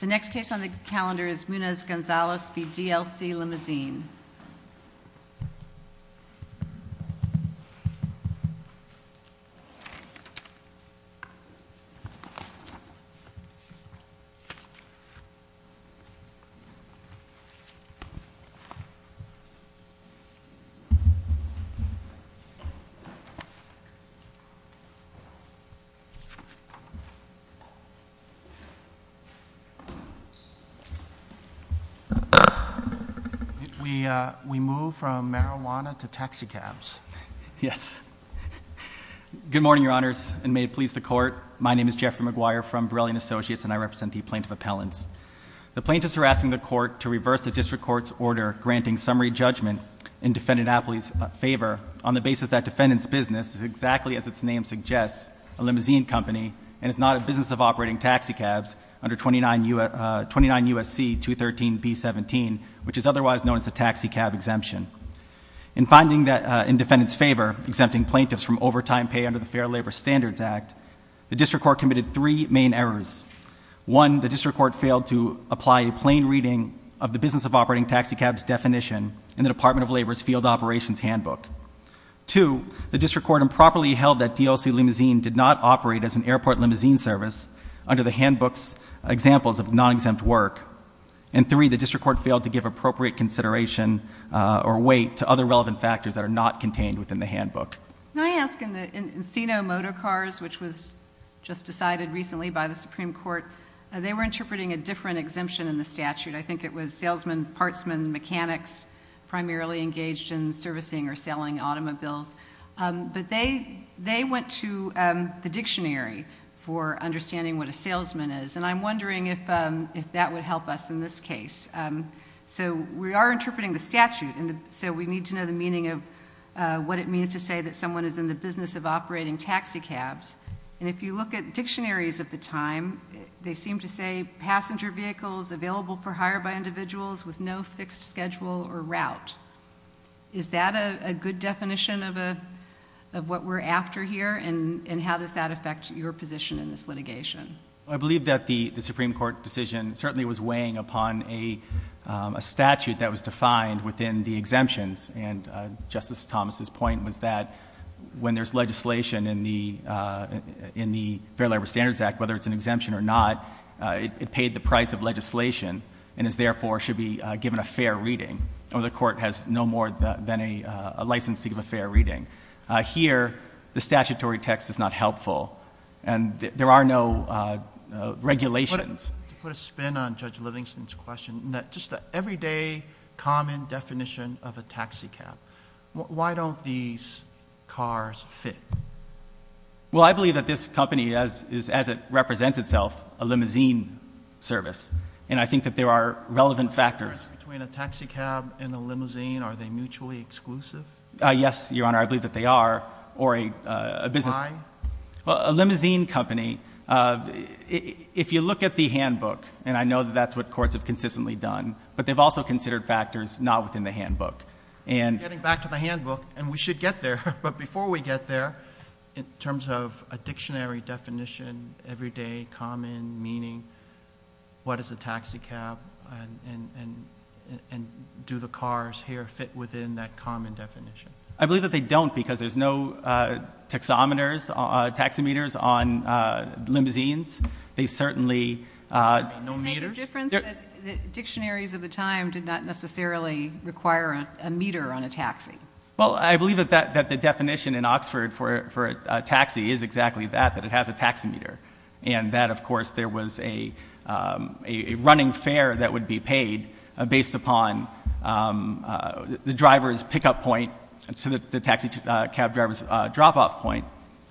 The next case on the calendar is Munoz-Gonzalez v. D.L.C. Limousine. We move from marijuana to taxicabs. Yes. Good morning, Your Honors, and may it please the Court, my name is Jeffrey McGuire from Borelli & Associates, and I represent the Plaintiff Appellants. The Plaintiffs are asking the Court to reverse the District Court's order granting summary judgment in Defendant Apley's favor on the basis that Defendant's business is exactly as its name suggests, a limousine company, and is not a business of operating taxicabs under 29 U.S.C. 213b17, which is otherwise known as the taxicab exemption. In finding that in Defendant's favor, exempting plaintiffs from overtime pay under the Fair Labor Standards Act, the District Court committed three main errors. One, the District Court failed to apply a plain reading of the business of operating taxicabs definition in the Department of Labor's field operations handbook. Two, the District Court improperly held that D.L.C. Limousine did not operate as an airport limousine service under the handbook's examples of non-exempt work. And three, the District Court failed to give appropriate consideration or weight to other relevant factors that are not contained within the handbook. Can I ask in the Encino motor cars, which was just decided recently by the Supreme Court, they were interpreting a different exemption in the statute. I think it was salesman, partsman, mechanics primarily engaged in servicing or selling automobiles. But they went to the dictionary for understanding what a salesman is, and I'm wondering if that would help us in this case. So we are interpreting the statute, so we need to know the meaning of what it means to say that someone is in the business of operating taxicabs. And if you look at dictionaries of the time, they seem to say passenger vehicles available for hire by individuals with no fixed schedule or route. Is that a good definition of what we're after here, and how does that affect your position in this litigation? I believe that the Supreme Court decision certainly was weighing upon a statute that was defined within the exemptions. And Justice Thomas's point was that when there's legislation in the Fair Labor Standards Act, whether it's an exemption or not, it paid the price of legislation and is therefore should be given a fair reading. The court has no more than a license to give a fair reading. Here, the statutory text is not helpful, and there are no regulations. To put a spin on Judge Livingston's question, just the everyday common definition of a taxicab. Why don't these cars fit? Well, I believe that this company, as it represents itself, a limousine service, and I think that there are relevant factors. Between a taxicab and a limousine, are they mutually exclusive? Yes, Your Honor, I believe that they are. Why? Well, a limousine company, if you look at the handbook, and I know that that's what courts have consistently done, but they've also considered factors not within the handbook. Getting back to the handbook, and we should get there, but before we get there, in terms of a dictionary definition, everyday, common, meaning, what is a taxicab, and do the cars here fit within that common definition? I believe that they don't, because there's no taxometers, taxi meters on limousines. They certainly- No meters? The difference that dictionaries of the time did not necessarily require a meter on a taxi. Well, I believe that the definition in Oxford for a taxi is exactly that, that it has a taxi meter, and that, of course, there was a running fare that would be paid based upon the driver's pickup point to the taxicab driver's drop-off point.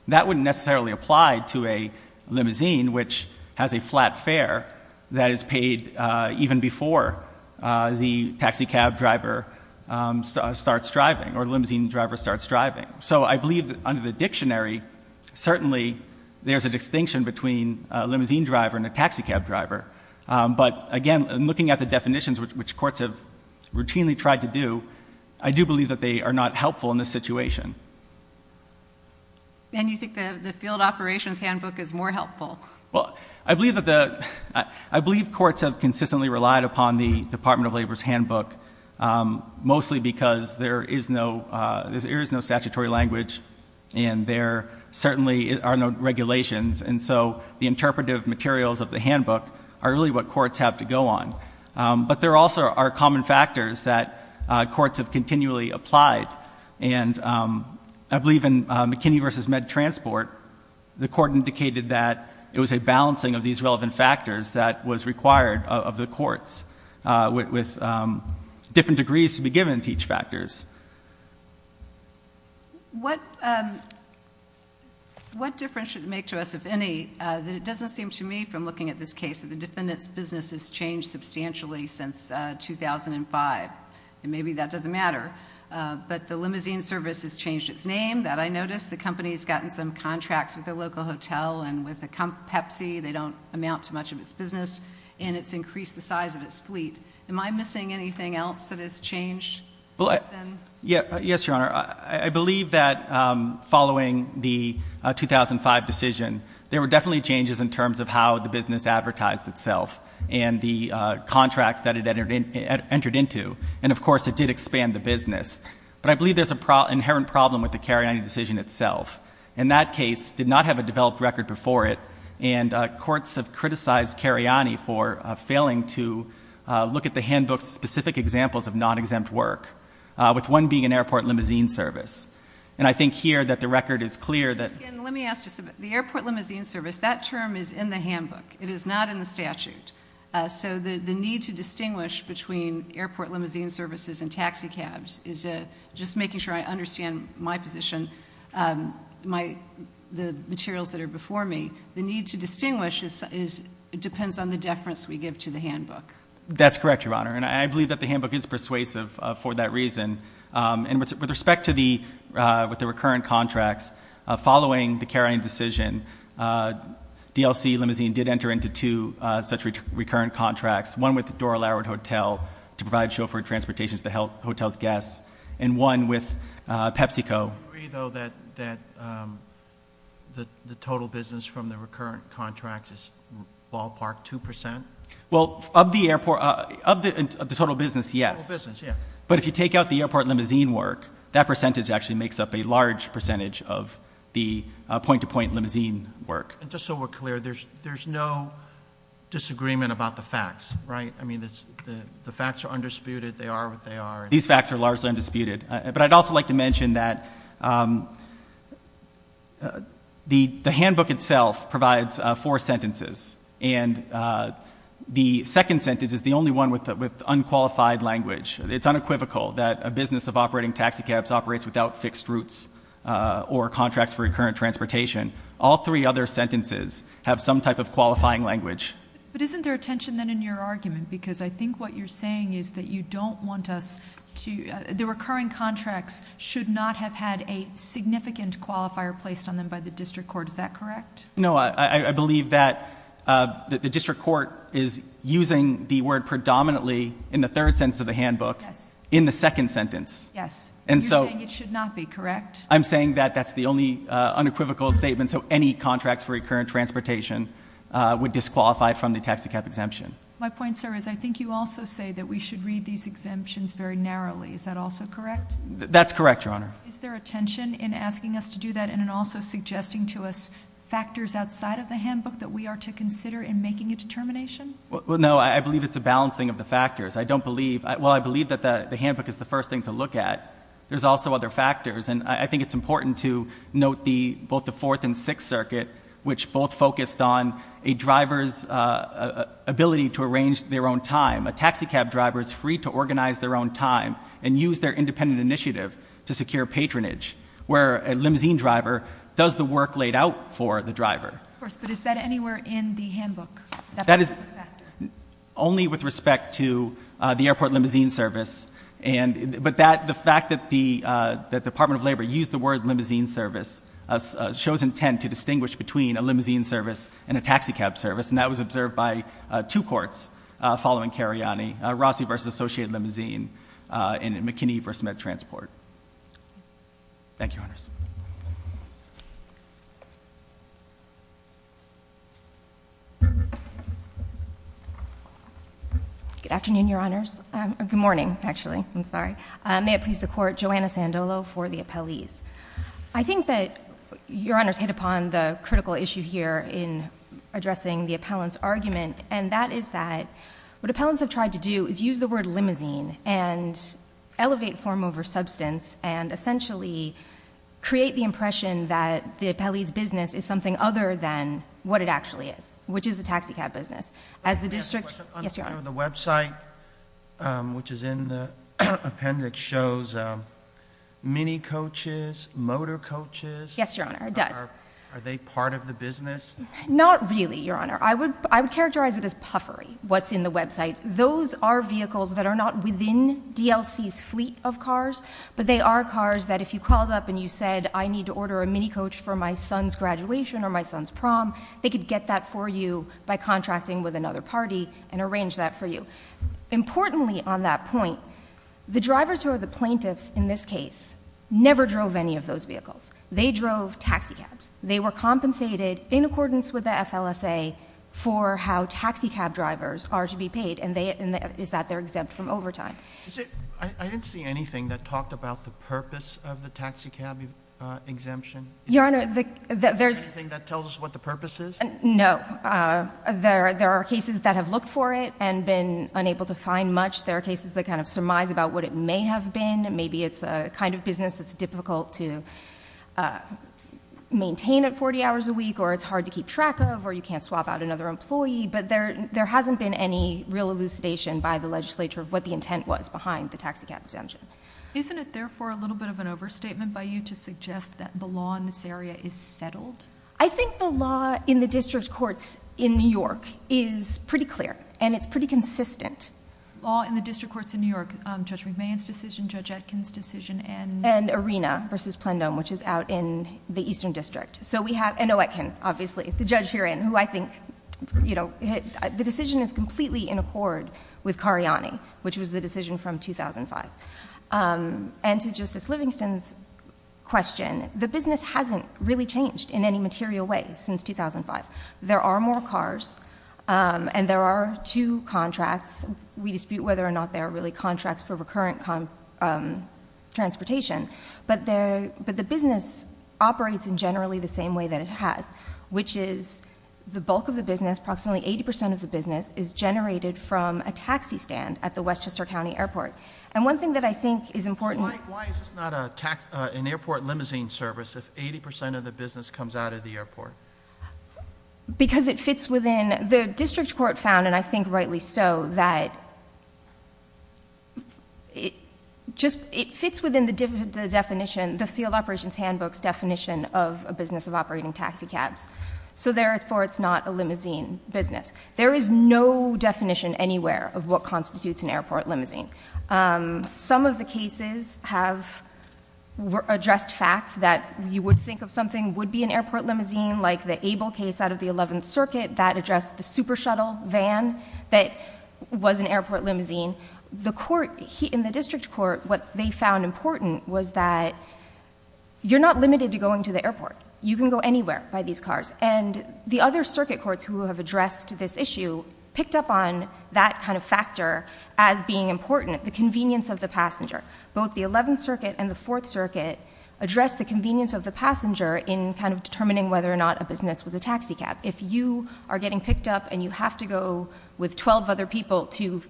That wouldn't necessarily apply to a limousine, which has a flat fare that is paid even before the taxicab driver starts driving, or the limousine driver starts driving. So I believe that under the dictionary, certainly there's a distinction between a limousine driver and a taxicab driver, but again, looking at the definitions, which courts have routinely tried to do, I do believe that they are not helpful in this situation. And you think the field operations handbook is more helpful? Well, I believe courts have consistently relied upon the Department of Labor's handbook, mostly because there is no statutory language, and there certainly are no regulations, and so the interpretive materials of the handbook are really what courts have to go on. But there also are common factors that courts have continually applied, and I believe in McKinney v. Med Transport, the court indicated that it was a balancing of these relevant factors that was required of the courts, with different degrees to be given to each factor. What difference should it make to us, if any, that it doesn't seem to me, from looking at this case, that the defendant's business has changed substantially since 2005, and maybe that doesn't matter, but the limousine service has changed its name. That I noticed. The company has gotten some contracts with a local hotel, and with Pepsi, they don't amount to much of its business, and it's increased the size of its fleet. Am I missing anything else that has changed since then? Yes, Your Honor. I believe that following the 2005 decision, there were definitely changes in terms of how the business advertised itself, and the contracts that it entered into, and, of course, it did expand the business. But I believe there's an inherent problem with the Cariani decision itself. And that case did not have a developed record before it, and courts have criticized Cariani for failing to look at the handbook's specific examples of non-exempt work, with one being an airport limousine service. And I think here that the record is clear. Let me ask you something. The airport limousine service, that term is in the handbook. It is not in the statute. So the need to distinguish between airport limousine services and taxi cabs is a just making sure I understand my position, the materials that are before me. The need to distinguish depends on the deference we give to the handbook. That's correct, Your Honor. And I believe that the handbook is persuasive for that reason. And with respect to the recurrent contracts, following the Cariani decision, DLC Limousine did enter into two such recurrent contracts, one with the Dora Larratt Hotel to provide chauffeur transportation to the hotel's guests, and one with PepsiCo. Do you agree, though, that the total business from the recurrent contracts is ballpark 2 percent? Well, of the airport, of the total business, yes. But if you take out the airport limousine work, that percentage actually makes up a large percentage of the point-to-point limousine work. Just so we're clear, there's no disagreement about the facts, right? I mean, the facts are undisputed. They are what they are. These facts are largely undisputed. But I'd also like to mention that the handbook itself provides four sentences. And the second sentence is the only one with unqualified language. It's unequivocal that a business of operating taxi cabs operates without fixed routes or contracts for recurrent transportation. All three other sentences have some type of qualifying language. But isn't there a tension, then, in your argument? Because I think what you're saying is that you don't want us to ñ the recurring contracts should not have had a significant qualifier placed on them by the district court. Is that correct? No. I believe that the district court is using the word predominantly in the third sentence of the handbook in the second sentence. Yes. And you're saying it should not be, correct? I'm saying that that's the only unequivocal statement. So any contracts for recurrent transportation would disqualify it from the taxi cab exemption. My point, sir, is I think you also say that we should read these exemptions very narrowly. Is that also correct? That's correct, Your Honor. Is there a tension in asking us to do that and in also suggesting to us factors outside of the handbook that we are to consider in making a determination? Well, no. I believe it's a balancing of the factors. I don't believe ñ well, I believe that the handbook is the first thing to look at. There's also other factors, and I think it's important to note both the Fourth and Sixth Circuit, which both focused on a driver's ability to arrange their own time. A taxi cab driver is free to organize their own time and use their independent initiative to secure patronage, where a limousine driver does the work laid out for the driver. Of course, but is that anywhere in the handbook? That is only with respect to the airport limousine service, but the fact that the Department of Labor used the word limousine service shows intent to distinguish between a limousine service and a taxi cab service, and that was observed by two courts following Cariani, Rossi v. Associated Limousine and McKinney v. MedTransport. Thank you, Your Honors. Good afternoon, Your Honors. Good morning, actually. I'm sorry. May it please the Court. Joanna Sandolo for the appellees. I think that Your Honors hit upon the critical issue here in addressing the appellant's argument, and that is that what appellants have tried to do is use the word limousine and elevate form over substance and essentially create the impression that the appellee's business is something other than what it actually is, which is a taxi cab business. The website, which is in the appendix, shows minicoaches, motorcoaches. Yes, Your Honor, it does. Are they part of the business? Not really, Your Honor. I would characterize it as puffery, what's in the website. Those are vehicles that are not within DLC's fleet of cars, but they are cars that if you called up and you said, I need to order a minicoach for my son's graduation or my son's prom, they could get that for you by contracting with another party and arrange that for you. Importantly on that point, the drivers who are the plaintiffs in this case never drove any of those vehicles. They drove taxi cabs. They were compensated in accordance with the FLSA for how taxi cab drivers are to be paid, and is that they're exempt from overtime. I didn't see anything that talked about the purpose of the taxi cab exemption. Your Honor, there's Is there anything that tells us what the purpose is? No. There are cases that have looked for it and been unable to find much. There are cases that kind of surmise about what it may have been. Maybe it's a kind of business that's difficult to maintain at 40 hours a week, or it's hard to keep track of, or you can't swap out another employee. But there hasn't been any real elucidation by the legislature of what the intent was behind the taxi cab exemption. Isn't it, therefore, a little bit of an overstatement by you to suggest that the law in this area is settled? I think the law in the district courts in New York is pretty clear, and it's pretty consistent. Law in the district courts in New York, Judge McMahon's decision, Judge Etkin's decision, and- And Arena versus Plenum, which is out in the Eastern District. And Etkin, obviously, the judge herein, who I think- The decision is completely in accord with Cariani, which was the decision from 2005. And to Justice Livingston's question, the business hasn't really changed in any material way since 2005. There are more cars, and there are two contracts. We dispute whether or not there are really contracts for recurrent transportation. But the business operates in generally the same way that it has, which is the bulk of the business, approximately 80% of the business, is generated from a taxi stand at the Westchester County Airport. And one thing that I think is important- Why is this not an airport limousine service if 80% of the business comes out of the airport? Because it fits within the district court found, and I think rightly so, that it fits within the definition, the Field Operations Handbook's definition of a business of operating taxi cabs. So therefore, it's not a limousine business. There is no definition anywhere of what constitutes an airport limousine. Some of the cases have addressed facts that you would think of something would be an airport limousine, like the Abel case out of the 11th Circuit that addressed the super shuttle van that was an airport limousine. In the district court, what they found important was that you're not limited to going to the airport. You can go anywhere by these cars. And the other circuit courts who have addressed this issue picked up on that kind of factor as being important, the convenience of the passenger. Both the 11th Circuit and the 4th Circuit addressed the convenience of the passenger in kind of determining whether or not a business was a taxi cab. If you are getting picked up and you have to go with 12 other people to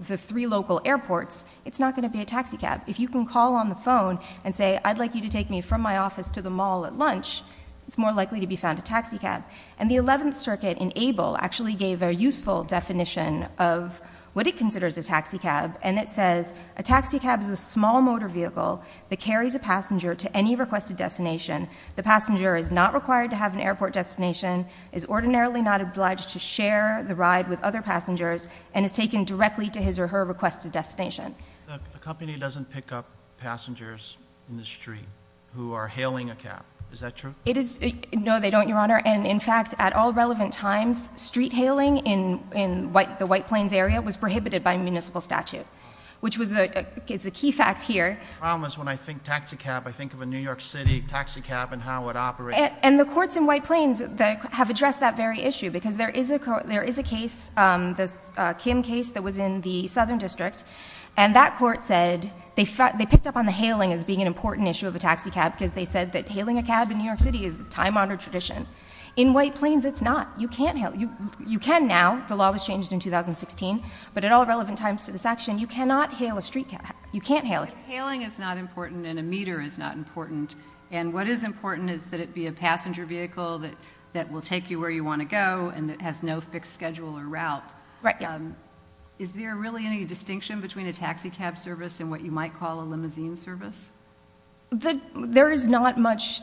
the three local airports, it's not going to be a taxi cab. If you can call on the phone and say, I'd like you to take me from my office to the mall at lunch, it's more likely to be found a taxi cab. And the 11th Circuit in Abel actually gave a useful definition of what it considers a taxi cab, and it says a taxi cab is a small motor vehicle that carries a passenger to any requested destination. The passenger is not required to have an airport destination, is ordinarily not obliged to share the ride with other passengers, and is taken directly to his or her requested destination. The company doesn't pick up passengers in the street who are hailing a cab. Is that true? No, they don't, Your Honor. And in fact, at all relevant times, street hailing in the White Plains area was prohibited by municipal statute, which is a key fact here. The problem is when I think taxi cab, I think of a New York City taxi cab and how it operates. And the courts in White Plains have addressed that very issue, because there is a case, the Kim case that was in the Southern District, and that court said they picked up on the hailing as being an important issue of a taxi cab because they said that hailing a cab in New York City is a time-honored tradition. In White Plains, it's not. You can now, the law was changed in 2016, but at all relevant times to this action, you cannot hail a street cab. You can't hail it. But hailing is not important and a meter is not important. And what is important is that it be a passenger vehicle that will take you where you want to go and that has no fixed schedule or route. Right. Is there really any distinction between a taxi cab service and what you might call a limousine service? There is not much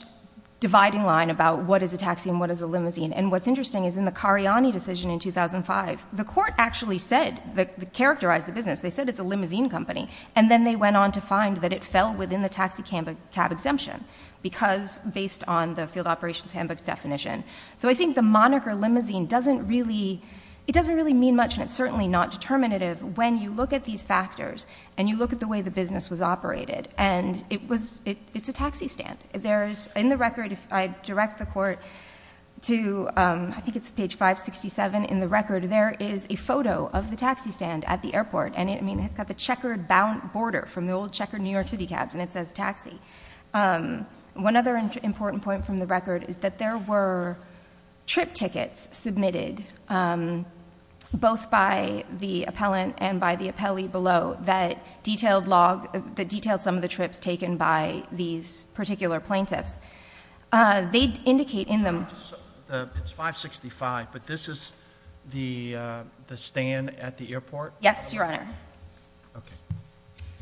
dividing line about what is a taxi and what is a limousine. And what's interesting is in the Cariani decision in 2005, the court actually said, characterized the business, they said it's a limousine company, and then they went on to find that it fell within the taxi cab exemption because, based on the field operations handbook's definition. So I think the moniker limousine doesn't really, it doesn't really mean much and it's certainly not determinative when you look at these factors and you look at the way the business was operated. And it was, it's a taxi stand. There's, in the record, if I direct the court to, I think it's page 567 in the record, there is a photo of the taxi stand at the airport. And, I mean, it's got the checkered bound border from the old checkered New York City cabs and it says taxi. One other important point from the record is that there were trip tickets submitted, both by the appellant and by the appellee below, that detailed some of the trips taken by these particular plaintiffs. They indicate in them. It's 565, but this is the stand at the airport? Yes, Your Honor. Okay.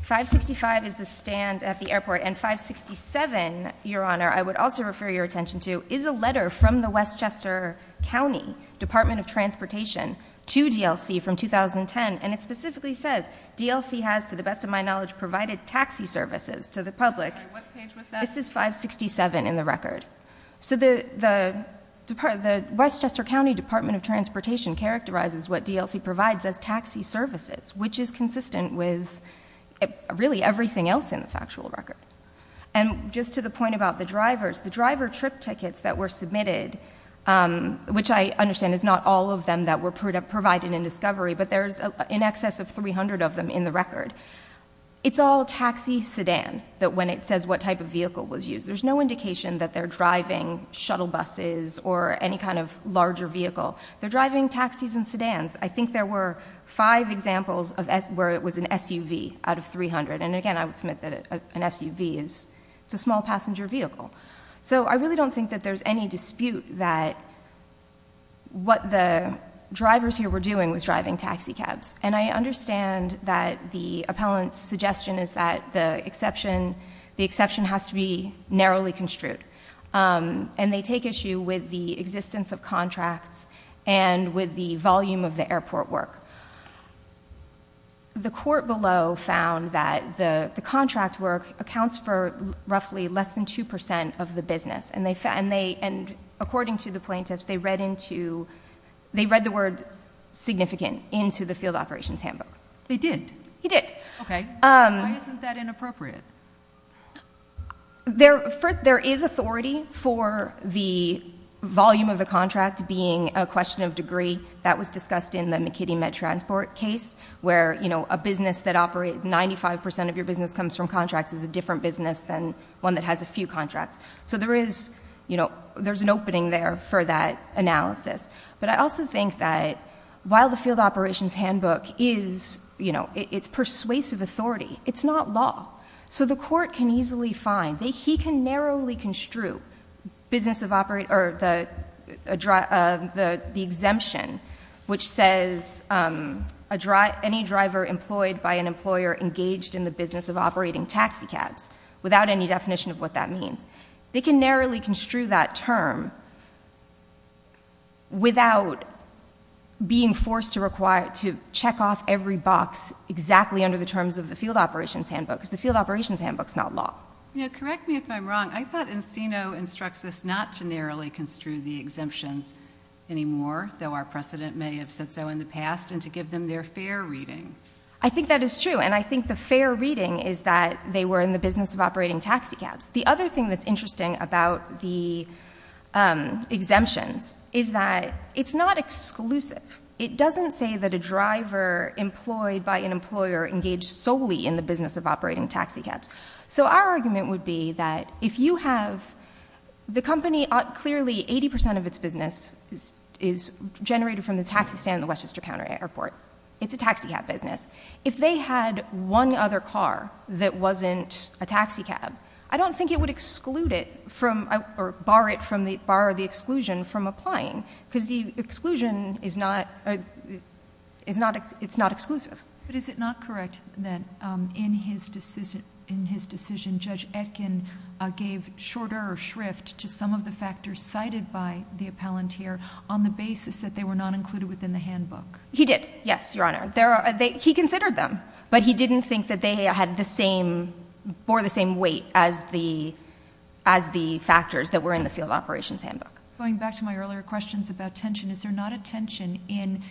565 is the stand at the airport and 567, Your Honor, I would also refer your attention to, is a letter from the Westchester County Department of Transportation to DLC from 2010 and it specifically says, DLC has, to the best of my knowledge, provided taxi services to the public. What page was that? This is 567 in the record. So the Westchester County Department of Transportation characterizes what DLC provides as taxi services, which is consistent with really everything else in the factual record. And just to the point about the drivers, the driver trip tickets that were submitted, which I understand is not all of them that were provided in discovery, but there's in excess of 300 of them in the record, it's all taxi sedan when it says what type of vehicle was used. There's no indication that they're driving shuttle buses or any kind of larger vehicle. They're driving taxis and sedans. I think there were five examples where it was an SUV out of 300. And again, I would submit that an SUV is a small passenger vehicle. So I really don't think that there's any dispute that what the drivers here were doing was driving taxi cabs. And I understand that the appellant's suggestion is that the exception has to be narrowly construed. And they take issue with the existence of contracts and with the volume of the airport work. The court below found that the contract work accounts for roughly less than 2% of the business. And according to the plaintiffs, they read the word significant into the field operations handbook. They did? They did. Okay. Why isn't that inappropriate? There is authority for the volume of the contract being a question of degree. That was discussed in the McKinney-Mead transport case, where a business that operates 95% of your business comes from contracts is a different business than one that has a few contracts. So there is an opening there for that analysis. But I also think that while the field operations handbook is persuasive authority, it's not law. So the court can easily find. He can narrowly construe the exemption, which says any driver employed by an employer engaged in the business of operating taxi cabs, without any definition of what that means. They can narrowly construe that term without being forced to check off every box exactly under the terms of the field operations handbook, because the field operations handbook is not law. Correct me if I'm wrong. I thought Encino instructs us not to narrowly construe the exemptions anymore, though our precedent may have said so in the past, and to give them their fair reading. I think that is true. And I think the fair reading is that they were in the business of operating taxi cabs. The other thing that's interesting about the exemptions is that it's not exclusive. It doesn't say that a driver employed by an employer engaged solely in the business of operating taxi cabs. So our argument would be that if you have the company, clearly 80% of its business is generated from the taxi stand at the Westchester Counter Airport. It's a taxi cab business. If they had one other car that wasn't a taxi cab, I don't think it would exclude it or bar the exclusion from applying, because the exclusion is not exclusive. But is it not correct that in his decision, Judge Etkin gave shorter shrift to some of the factors cited by the appellant here on the basis that they were not included within the handbook? He did, yes, Your Honor. He considered them, but he didn't think that they bore the same weight as the factors that were in the field operations handbook. Going back to my earlier questions about tension, is there not a tension in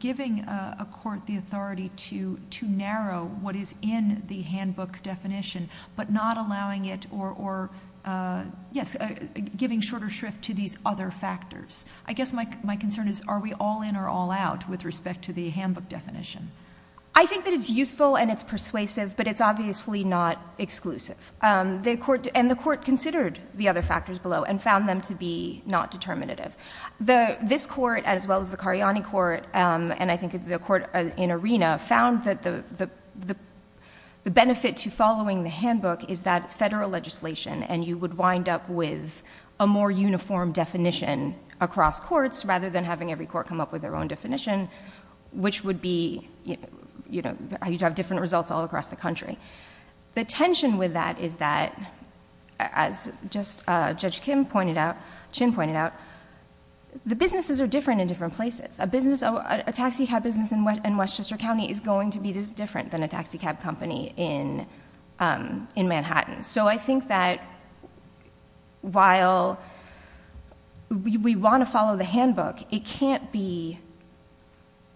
giving a court the authority to narrow what is in the handbook's definition but not allowing it or, yes, giving shorter shrift to these other factors? I guess my concern is are we all in or all out with respect to the handbook definition? I think that it's useful and it's persuasive, but it's obviously not exclusive. And the court considered the other factors below and found them to be not determinative. This court, as well as the Cariani court, and I think the court in Arena, found that the benefit to following the handbook is that it's federal legislation and you would wind up with a more uniform definition across courts rather than having every court come up with their own definition, which would be how you'd have different results all across the country. The tension with that is that, as Judge Chin pointed out, the businesses are different in different places. A taxi cab business in Westchester County is going to be different than a taxi cab company in Manhattan. So I think that while we want to follow the handbook, it can't be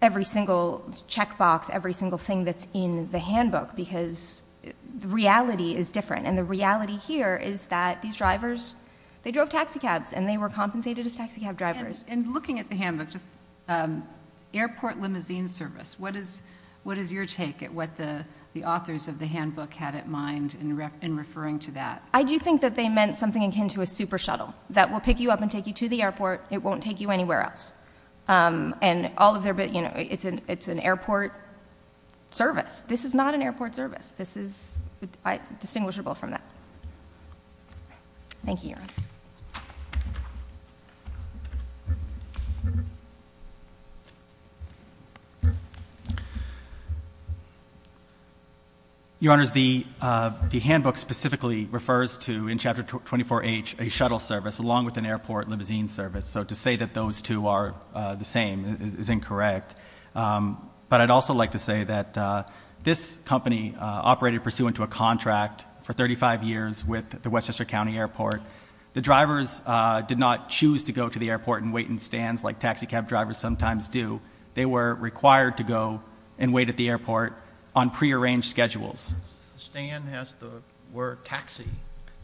every single checkbox, every single thing that's in the handbook because the reality is different, and the reality here is that these drivers, they drove taxi cabs and they were compensated as taxi cab drivers. And looking at the handbook, just Airport Limousine Service, what is your take at what the authors of the handbook had in mind in referring to that? I do think that they meant something akin to a super shuttle that will pick you up and take you to the airport. It won't take you anywhere else. It's an airport service. This is not an airport service. This is distinguishable from that. Thank you, Your Honor. Your Honor, the handbook specifically refers to, in Chapter 24H, a shuttle service along with an airport limousine service. So to say that those two are the same is incorrect. But I'd also like to say that this company operated pursuant to a contract for 35 years with the Westchester County Airport. The drivers did not choose to go to the airport and wait in stands like taxi cab drivers sometimes do. They were required to go and wait at the airport on prearranged schedules. The stand has the word taxi.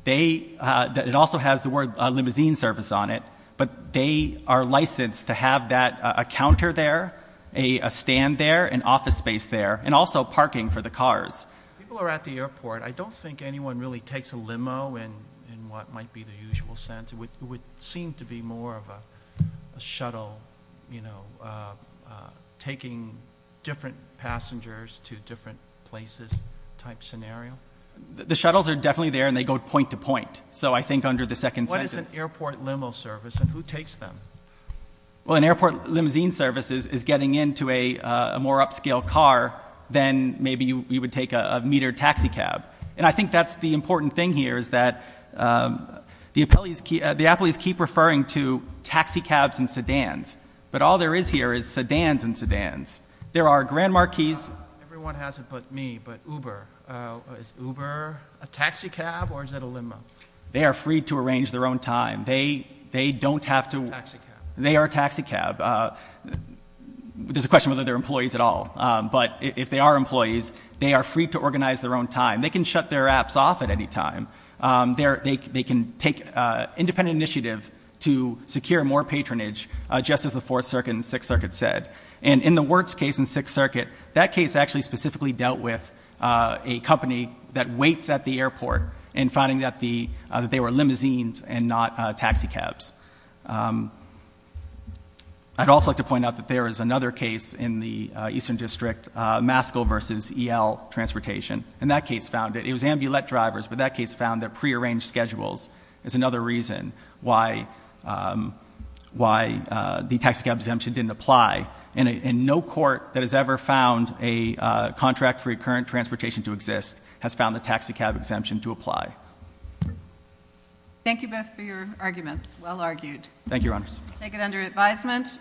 It also has the word limousine service on it. But they are licensed to have a counter there, a stand there, an office space there, and also parking for the cars. People are at the airport. I don't think anyone really takes a limo in what might be the usual sense. It would seem to be more of a shuttle taking different passengers to different places type scenario. The shuttles are definitely there, and they go point to point. So I think under the second sentence. What is an airport limo service and who takes them? Well, an airport limousine service is getting into a more upscale car than maybe you would take a metered taxi cab. And I think that's the important thing here is that the appellees keep referring to taxi cabs and sedans. But all there is here is sedans and sedans. There are grand marquees. Everyone has it but me, but Uber. Is Uber a taxi cab or is it a limo? They are free to arrange their own time. They don't have to. Taxi cab. They are a taxi cab. There's a question whether they're employees at all. But if they are employees, they are free to organize their own time. They can shut their apps off at any time. They can take independent initiative to secure more patronage just as the Fourth Circuit and Sixth Circuit said. And in the Wirtz case in Sixth Circuit, that case actually specifically dealt with a company that waits at the airport and finding that they were limousines and not taxi cabs. I'd also like to point out that there is another case in the Eastern District, Masco versus EL Transportation. And that case found that it was ambulette drivers, but that case found that prearranged schedules is another reason why the taxi cab exemption didn't apply. And no court that has ever found a contract for current transportation to exist has found the taxi cab exemption to apply. Thank you both for your arguments. Well argued. Thank you, Your Honors. Take it under advisement.